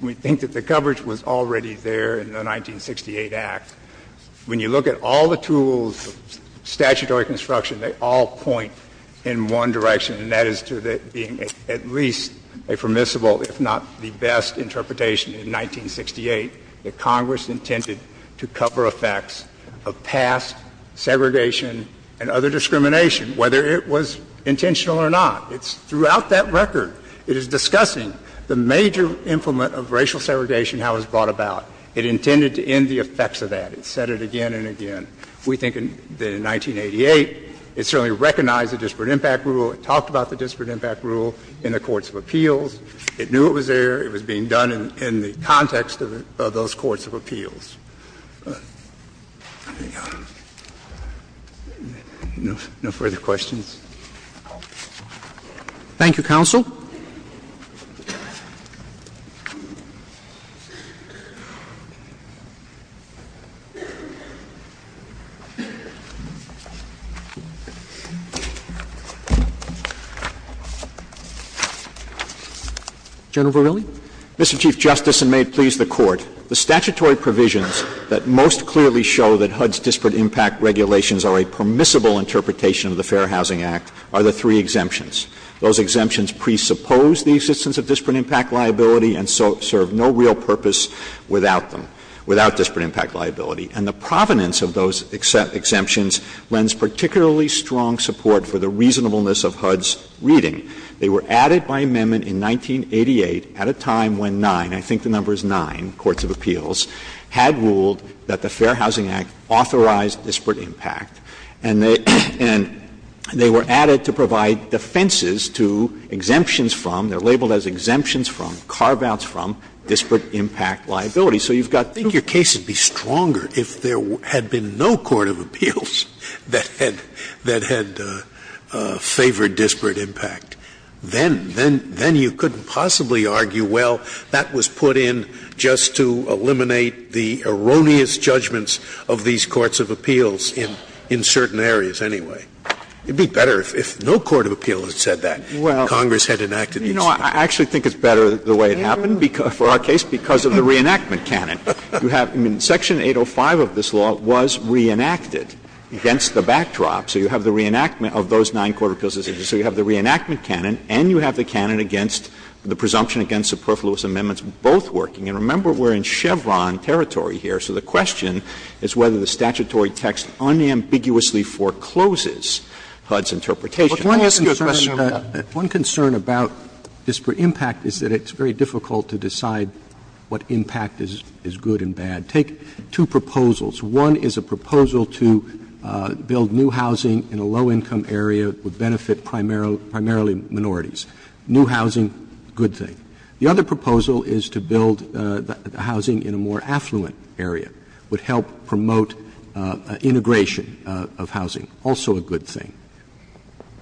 we think that the coverage was already there in the 1968 Act. When you look at all the tools of statutory construction, they all point in one direction, and that is to being at least a permissible, if not the best, interpretation in 1968 that Congress intended to cover effects of past segregation and other discrimination, whether it was intentional or not. It's throughout that record. It is discussing the major implement of racial segregation, how it was brought about. It intended to end the effects of that. It said it again and again. We think that in 1988 it certainly recognized the disparate impact rule. It talked about the disparate impact rule in the courts of appeals. It knew it was there. It was being done in the context of those courts of appeals. No further questions? Thank you, counsel. Mr. Chief Justice, and may it please the Court, the statutory provisions that most clearly show that HUD's disparate impact regulations are a permissible interpretation of the Fair Housing Act are the three exemptions. Those exemptions presuppose the existence of disparate impact liability and serve no real purpose without them, without disparate impact liability. And the provenance of those exemptions lends particularly strong support for the reasonableness of HUD's reading. They were added by amendment in 1988 at a time when nine, I think the number is nine, courts of appeals had ruled that the Fair Housing Act authorized disparate impact. And they were added to provide defenses to exemptions from, they're labeled as exemptions from, carve-outs from disparate impact liability. So you've got two. Scalia, I think your case would be stronger if there had been no court of appeals that had favored disparate impact. Then you couldn't possibly argue, well, that was put in just to eliminate the erroneous judgments of these courts of appeals in certain areas anyway. It would be better if no court of appeals had said that. Congress had enacted these things. Verrilli, I actually think it's better the way it happened for our case because of the reenactment canon. You have, I mean, section 805 of this law was reenacted against the backdrop. So you have the reenactment of those nine court of appeals. So you have the reenactment canon and you have the canon against the presumption against superfluous amendments, both working. And remember, we're in Chevron territory here. So the question is whether the statutory text unambiguously forecloses HUD's interpretation. Roberts, I want to ask you a question about that. Roberts, one concern about disparate impact is that it's very difficult to decide what impact is good and bad. Take two proposals. One is a proposal to build new housing in a low-income area with benefit primarily minorities. New housing, good thing. The other proposal is to build housing in a more affluent area. Would help promote integration of housing, also a good thing.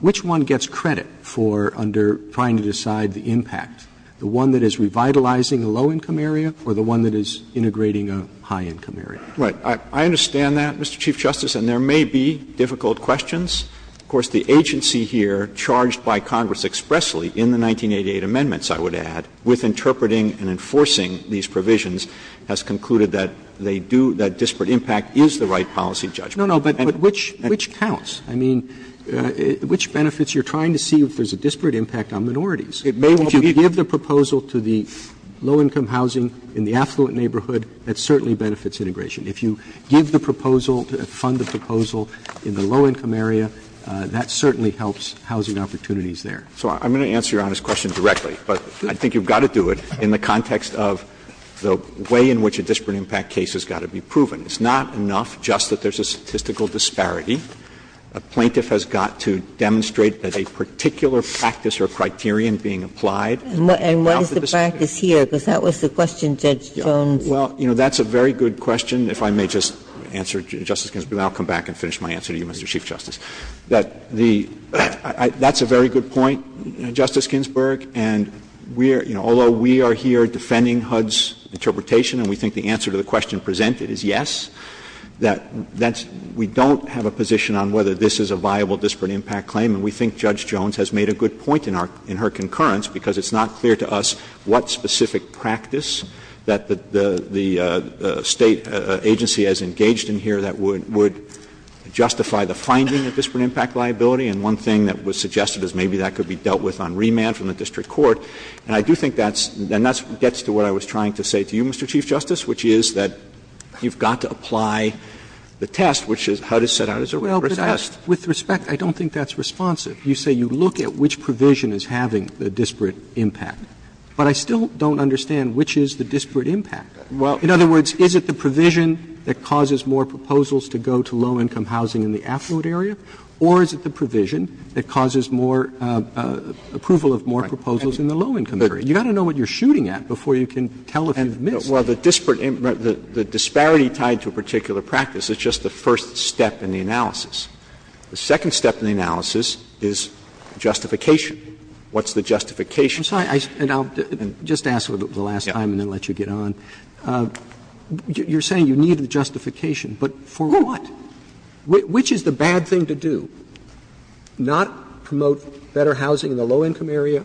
Which one gets credit for under trying to decide the impact? The one that is revitalizing a low-income area or the one that is integrating a high-income area? Verrilli, I understand that, Mr. Chief Justice, and there may be difficult questions. Of course, the agency here charged by Congress expressly in the 1988 amendments, I would add, with interpreting and enforcing these provisions, has concluded that they do, that disparate impact is the right policy judgment. Roberts, which counts? I mean, which benefits? You're trying to see if there's a disparate impact on minorities. Verrilli, if you give the proposal to the low-income housing in the affluent neighborhood, that certainly benefits integration. If you give the proposal, fund the proposal in the low-income area, that certainly helps housing opportunities there. So I'm going to answer Your Honor's question directly, but I think you've got to do it in the context of the way in which a disparate impact case has got to be proven. It's not enough just that there's a statistical disparity. A plaintiff has got to demonstrate that a particular practice or criterion being applied. And what is the practice here? Because that was the question Judge Jones. Well, you know, that's a very good question. If I may just answer, Justice Ginsburg, and then I'll come back and finish my answer to you, Mr. Chief Justice. That the — that's a very good point, Justice Ginsburg. And we are — you know, although we are here defending HUD's interpretation and we think the answer to the question presented is yes, that that's — we don't have a position on whether this is a viable disparate impact claim. And we think Judge Jones has made a good point in our — in her concurrence because it's not clear to us what specific practice that the State agency has engaged in here that would — would justify the finding of disparate impact liability. And one thing that was suggested is maybe that could be dealt with on remand from the district court. And I do think that's — and that gets to what I was trying to say to you, Mr. Chief Justice, which is that you've got to apply the test, which is HUD is set out as a rigorous test. Roberts With respect, I don't think that's responsive. You say you look at which provision is having a disparate impact, but I still don't understand which is the disparate impact. In other words, is it the provision that causes more proposals to go to low-income housing in the affluent area, or is it the provision that causes more approval of more proposals in the low-income area? You've got to know what you're shooting at before you can tell if you've missed. Verrilli, Jr. Well, the disparate — the disparity tied to a particular practice is just the first step in the analysis. The second step in the analysis is justification. What's the justification? Roberts I'm sorry. And I'll just ask for the last time and then let you get on. You're saying you need a justification, but for what? Which is the bad thing to do, not promote better housing in the low-income area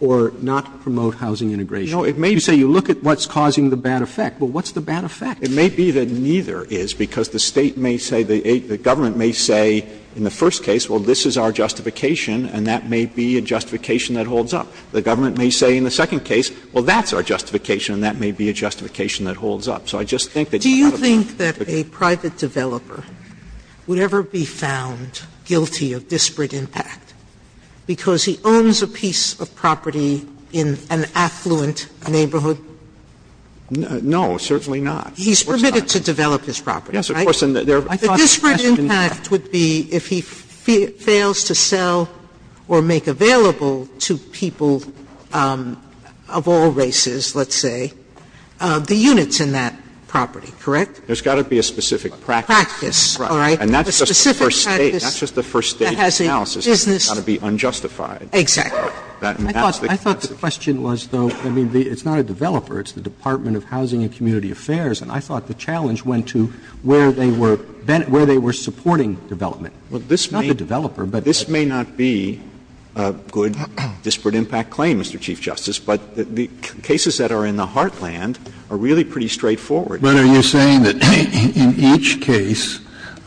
or not promote housing integration? You say you look at what's causing the bad effect, but what's the bad effect? Verrilli, Jr. It may be that neither is, because the State may say, the government may say in the first case, well, this is our justification and that may be a justification that holds up. The government may say in the second case, well, that's our justification and that may be a justification that holds up. So I just think that's part of the question. Sotomayor Do you think that a private developer would ever be found guilty of disparate impact because he owns a piece of property in an affluent neighborhood? Verrilli, Jr. No, certainly not. Sotomayor He's permitted to develop his property, right? Verrilli, Jr. Yes, of course. Sotomayor The disparate impact would be if he fails to sell or make available to people of all races, let's say, the units in that property, correct? Verrilli, Jr. There's got to be a specific practice. Sotomayor Practice, all right. Verrilli, Jr. Sotomayor A specific practice that has a business. Verrilli, Jr. That's just the first state analysis. It's got to be unjustified. Sotomayor Exactly. Verrilli, Jr. I thought the question was, though, I mean, it's not a developer. It's the Department of Housing and Community Affairs. And I thought the challenge went to where they were supporting development. Verrilli, Jr. Well, this may be the developer, but this may not be a good disparate impact. I claim, Mr. Chief Justice, but the cases that are in the heartland are really pretty straightforward. Kennedy But are you saying that in each case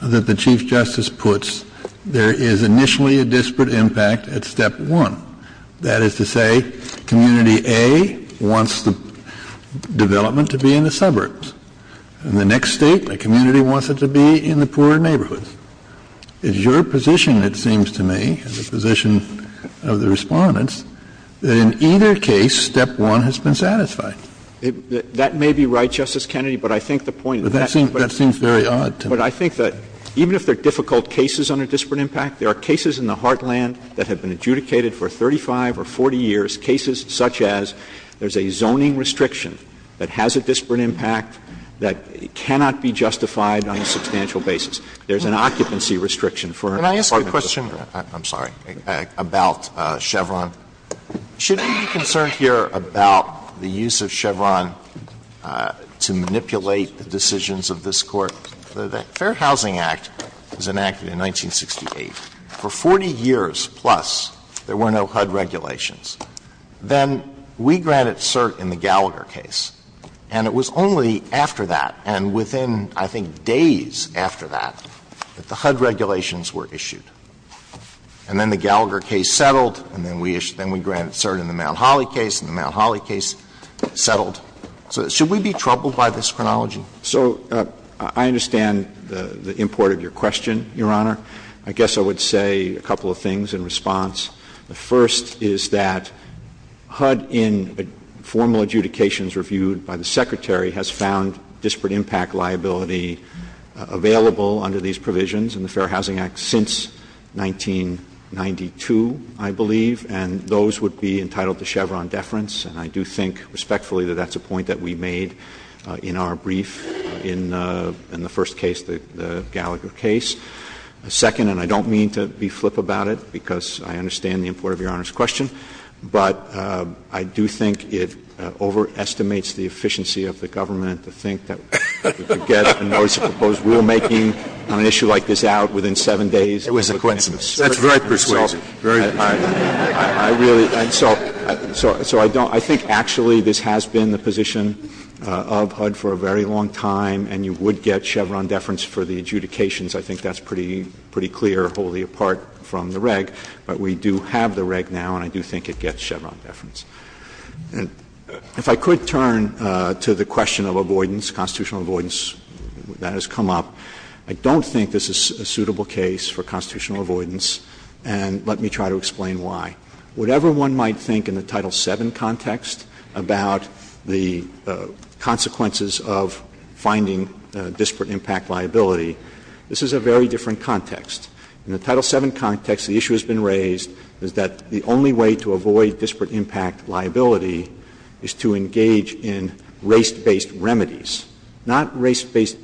that the Chief Justice puts, there is initially a disparate impact at step one? That is to say, community A wants the development to be in the suburbs. In the next state, the community wants it to be in the poorer neighborhoods. It's your position, it seems to me, the position of the Respondents, that in either case, step one has been satisfied. Verrilli, Jr. That may be right, Justice Kennedy, but I think the point that that seems very odd to me. But I think that even if there are difficult cases on a disparate impact, there are cases in the heartland that have been adjudicated for 35 or 40 years, cases such as there's a zoning restriction that has a disparate impact that cannot be justified on a substantial basis. There's an occupancy restriction for an apartment building. Alito Can I ask a question? I'm sorry. About Chevron. Shouldn't you be concerned here about the use of Chevron to manipulate the decisions of this Court? The Fair Housing Act was enacted in 1968. For 40 years plus, there were no HUD regulations. Then we granted cert in the Gallagher case, and it was only after that, and within, I think, days after that, that the HUD regulations were issued. And then the Gallagher case settled, and then we issued the Mount Holly case, and the Mount Holly case settled. So should we be troubled by this chronology? Verrilli, Jr. So I understand the import of your question, Your Honor. I guess I would say a couple of things in response. The first is that HUD, in formal adjudications reviewed by the Secretary, has found disparate impact liability available under these provisions in the Fair Housing Act since 1992, I believe, and those would be entitled to Chevron deference. And I do think, respectfully, that that's a point that we made in our brief in the first case, the Gallagher case. Second, and I don't mean to be flip about it, because I understand the import of Your Honor's question, but I do think it overestimates the efficiency of the government to think that we could get a notice of proposed rulemaking on an issue like this out within 7 days. Scalia It was a coincidence. That's very persuasive. Very persuasive. Verrilli, Jr. I really don't. So I think actually this has been the position of HUD for a very long time, and you would get Chevron deference for the adjudications. I think that's pretty clear, wholly apart from the reg. But we do have the reg now, and I do think it gets Chevron deference. If I could turn to the question of avoidance, constitutional avoidance that has come up, I don't think this is a suitable case for constitutional avoidance, and let me try to explain why. Whatever one might think in the Title VII context about the consequences of finding disparate impact liability, this is a very different context. In the Title VII context, the issue that's been raised is that the only way to avoid disparate impact liability is to engage in race-based remedies, not race-based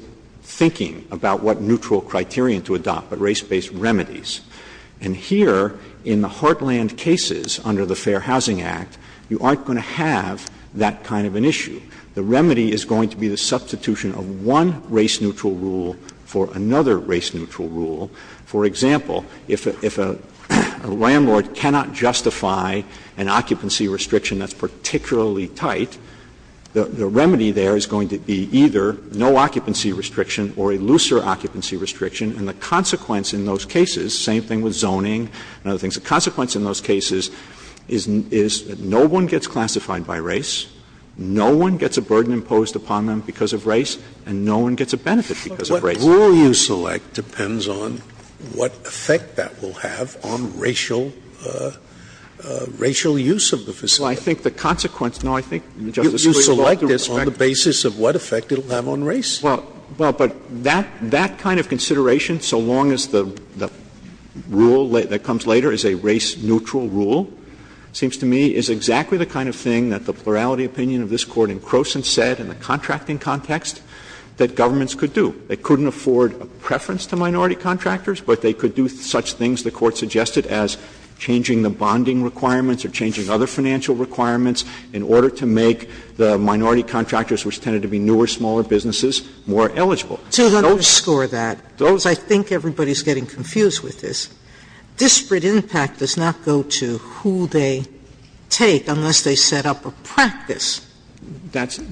thinking about what neutral criterion to adopt, but race-based remedies. And here, in the Heartland cases under the Fair Housing Act, you aren't going to have that kind of an issue. The remedy is going to be the substitution of one race-neutral rule for another race-neutral rule. For example, if a landlord cannot justify an occupancy restriction that's particularly tight, the remedy there is going to be either no occupancy restriction or a looser occupancy restriction, and the consequence in those cases, same thing with zoning and other things, the consequence in those cases is that no one gets classified by race, no one gets a burden imposed upon them because of race, and no one gets a benefit because of race. Scalia, the rule you select depends on what effect that will have on racial use of the facility. Well, I think the consequence, no, I think, Justice Scalia, you select this on the basis of what effect it will have on race. Well, but that kind of consideration, so long as the rule that comes later is a race-neutral rule, seems to me is exactly the kind of thing that the plurality opinion of this to minority contractors, but they could do such things, the Court suggested, as changing the bonding requirements or changing other financial requirements in order to make the minority contractors, which tended to be newer, smaller businesses, more eligible. Sotomayor To underscore that, because I think everybody's getting confused with this, disparate impact does not go to who they take unless they set up a practice. That has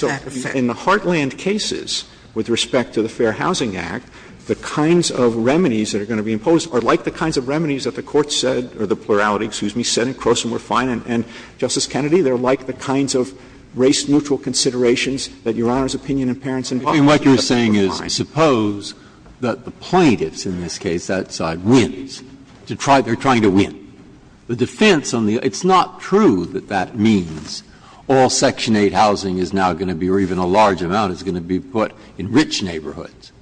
that effect. In the Heartland cases, with respect to the Fair Housing Act, the kinds of remedies that are going to be imposed are like the kinds of remedies that the Court said, or the plurality, excuse me, said in Croson were fine, and, Justice Kennedy, they're like the kinds of race-neutral considerations that Your Honor's opinion in Parenson did. Breyer, what you're saying is, suppose that the plaintiffs in this case, that side, wins, to try, they're trying to win. The defense on the, it's not true that that means all Section 8 housing is now going to be, or even a large amount, is going to be put in rich neighborhoods.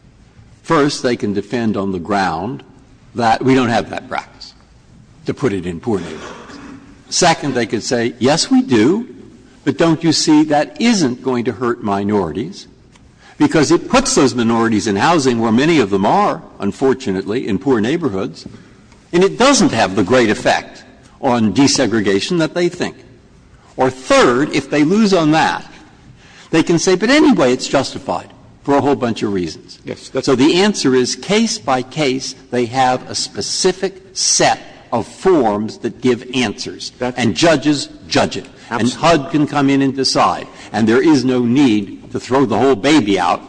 First, they can defend on the ground that we don't have that practice, to put it in poor neighborhoods. Second, they could say, yes, we do, but don't you see that isn't going to hurt minorities, because it puts those minorities in housing where many of them are, unfortunately, in poor neighborhoods, and it doesn't have the great effect on desegregation that they think. Or third, if they lose on that, they can say, but anyway, it's justified, for a whole bunch of reasons. So the answer is, case by case, they have a specific set of forms that give answers, and judges judge it. And HUD can come in and decide. And there is no need to throw the whole baby out,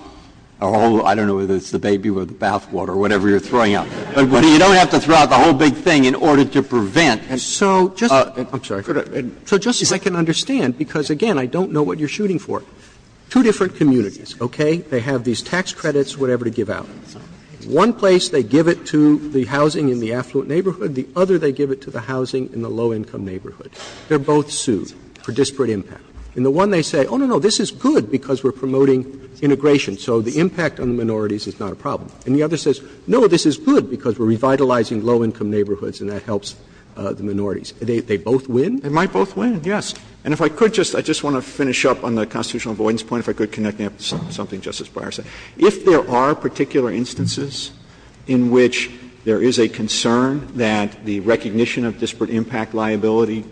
or I don't know whether it's the baby with the bathwater or whatever you're throwing out, but you don't have to throw out the whole big thing in order to prevent. Roberts So, just as I can understand, because, again, I don't know what you're shooting for, two different communities, okay, they have these tax credits, whatever, to give out. One place they give it to the housing in the affluent neighborhood, the other they give it to the housing in the low-income neighborhood. They're both sued for disparate impact. In the one they say, oh, no, no, this is good because we're promoting integration, so the impact on the minorities is not a problem. And the other says, no, this is good because we're revitalizing low-income neighborhoods and that helps the minorities. They both win? Verrilli, They might both win, yes. And if I could just — I just want to finish up on the constitutional avoidance point, if I could connect that to something Justice Breyer said. If there are particular instances in which there is a concern that the recognition of disparate impact liability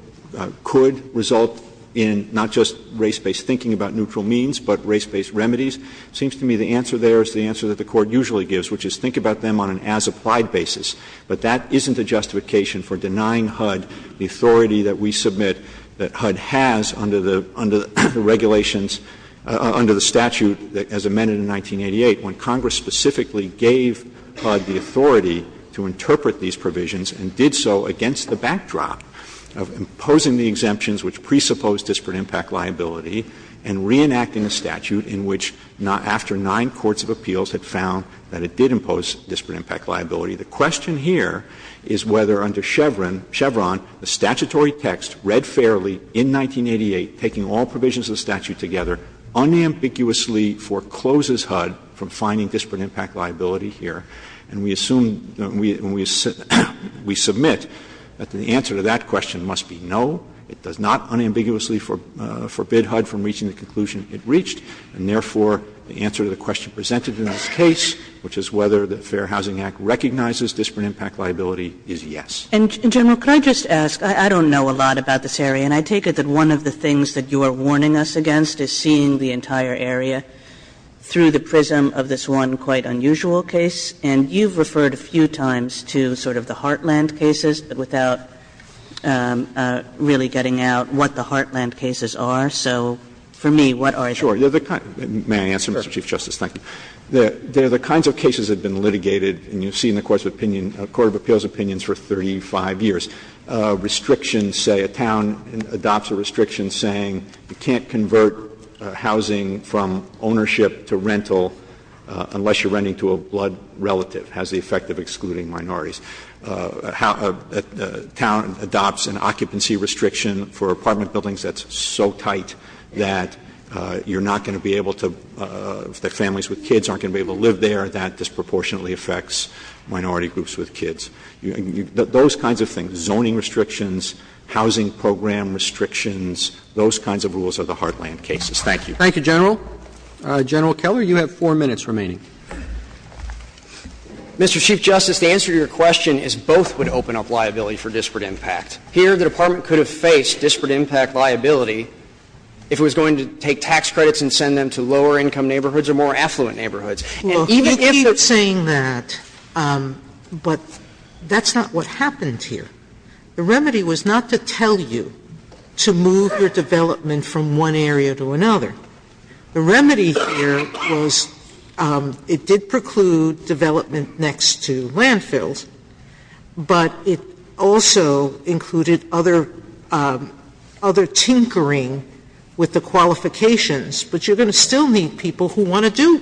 could result in not just race-based thinking about neutral means, but race-based remedies, it seems to me the answer there is the answer that the Court usually gives, which is think about them on an as-applied basis. But that isn't a justification for denying HUD the authority that we submit that HUD has under the regulations, under the statute as amended in 1988, when Congress specifically gave HUD the authority to interpret these provisions and did so against the backdrop of imposing the exemptions which presuppose disparate impact liability and reenacting a statute in which after nine courts of appeals had found that it did impose disparate impact liability. The question here is whether under Chevron, the statutory text read fairly in 1988, taking all provisions of the statute together, unambiguously forecloses HUD from finding disparate impact liability here. And we assume, we submit that the answer to that question must be no, it does not foreclose HUD from reaching the conclusion it reached, and therefore, the answer to the question presented in this case, which is whether the Fair Housing Act recognizes disparate impact liability, is yes. Kagan. Kagan. And, General, could I just ask, I don't know a lot about this area, and I take it that one of the things that you are warning us against is seeing the entire area through the prism of this one quite unusual case, and you've referred a few times to sort of the Heartland cases, but without really getting out what the Heartland cases are. So for me, what are they? Verrilli, may I answer, Mr. Chief Justice? Thank you. The kinds of cases that have been litigated, and you've seen the courts of opinion of court of appeals opinions for 35 years, restrictions say a town adopts a restriction saying you can't convert housing from ownership to rental unless you're renting to a blood relative, has the effect of excluding minorities. A town adopts an occupancy restriction for apartment buildings that's so tight that you're not going to be able to, that families with kids aren't going to be able to live there. That disproportionately affects minority groups with kids. Those kinds of things, zoning restrictions, housing program restrictions, those kinds of rules are the Heartland cases. Thank you. Thank you, General. General Keller, you have 4 minutes remaining. Mr. Chief Justice, the answer to your question is both would open up liability for disparate impact. Here, the Department could have faced disparate impact liability if it was going to take tax credits and send them to lower income neighborhoods or more affluent neighborhoods. And even if there's not what happens here, the remedy was not to tell you to move your development from one area to another. The remedy here was it did preclude development next to landfills, but it also included other tinkering with the qualifications. But you're going to still need people who want to do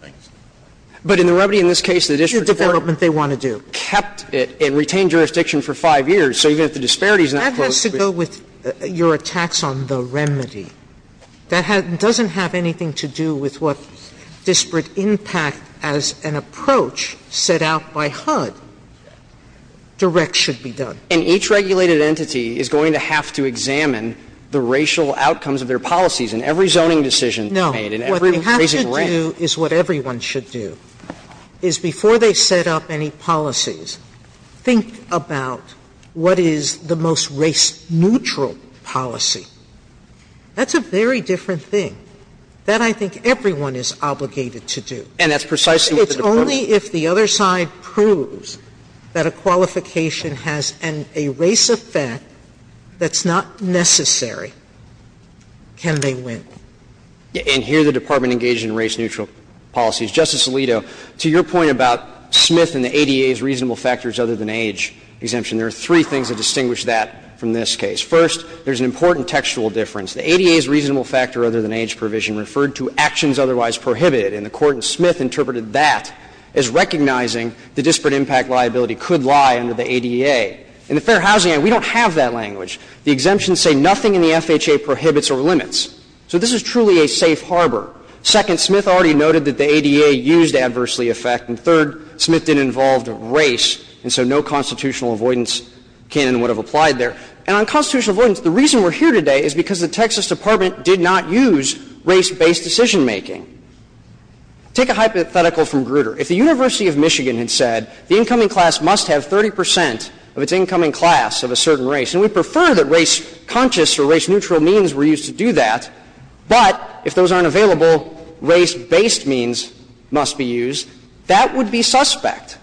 the development they want to do. But in the remedy in this case, the district court kept it and retained jurisdiction for 5 years. So even if the disparity is not close, we're still going to have to do it. That has to go with your attacks on the remedy. That doesn't have anything to do with what disparate impact as an approach set out by HUD direct should be done. And each regulated entity is going to have to examine the racial outcomes of their policies in every zoning decision made, in every raising of rent. No. What they have to do is what everyone should do, is before they set up any policies, think about what is the most race-neutral policy. That's a very different thing that I think everyone is obligated to do. And that's precisely what the Department of Justice does. It's only if the other side proves that a qualification has a race effect that's not necessary can they win. And here the Department engaged in race-neutral policies. Justice Alito, to your point about Smith and the ADA's reasonable factors other than age exemption, there are three things that distinguish that from this case. First, there's an important textual difference. The ADA's reasonable factor other than age provision referred to actions otherwise prohibited, and the Court in Smith interpreted that as recognizing the disparate impact liability could lie under the ADA. In the Fair Housing Act, we don't have that language. The exemptions say nothing in the FHA prohibits or limits. So this is truly a safe harbor. Second, Smith already noted that the ADA used adversely effect. And third, Smith didn't involve race, and so no constitutional avoidance can and would have applied there. And on constitutional avoidance, the reason we're here today is because the Texas Department did not use race-based decision-making. Take a hypothetical from Grutter. If the University of Michigan had said the incoming class must have 30 percent of its incoming class of a certain race, and we prefer that race-conscious or race-neutral means were used to do that. But if those aren't available, race-based means must be used, that would be suspect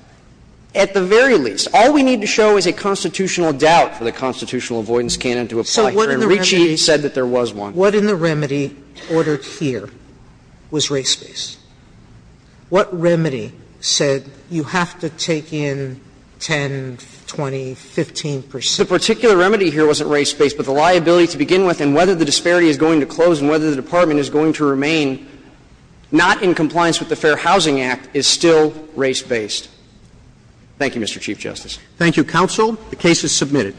at the very least. All we need to show is a constitutional doubt for the constitutional avoidance can and would apply here. And Ricci said that there was one. Sotomayor What in the remedy ordered here was race-based? What remedy said you have to take in 10, 20, 15 percent? Clement The particular remedy here wasn't race-based, but the liability to begin with, and whether the disparity is going to close and whether the department is going to remain not in compliance with the Fair Housing Act, is still race-based. Thank you, Mr. Chief Justice. Roberts Thank you, counsel. The case is submitted.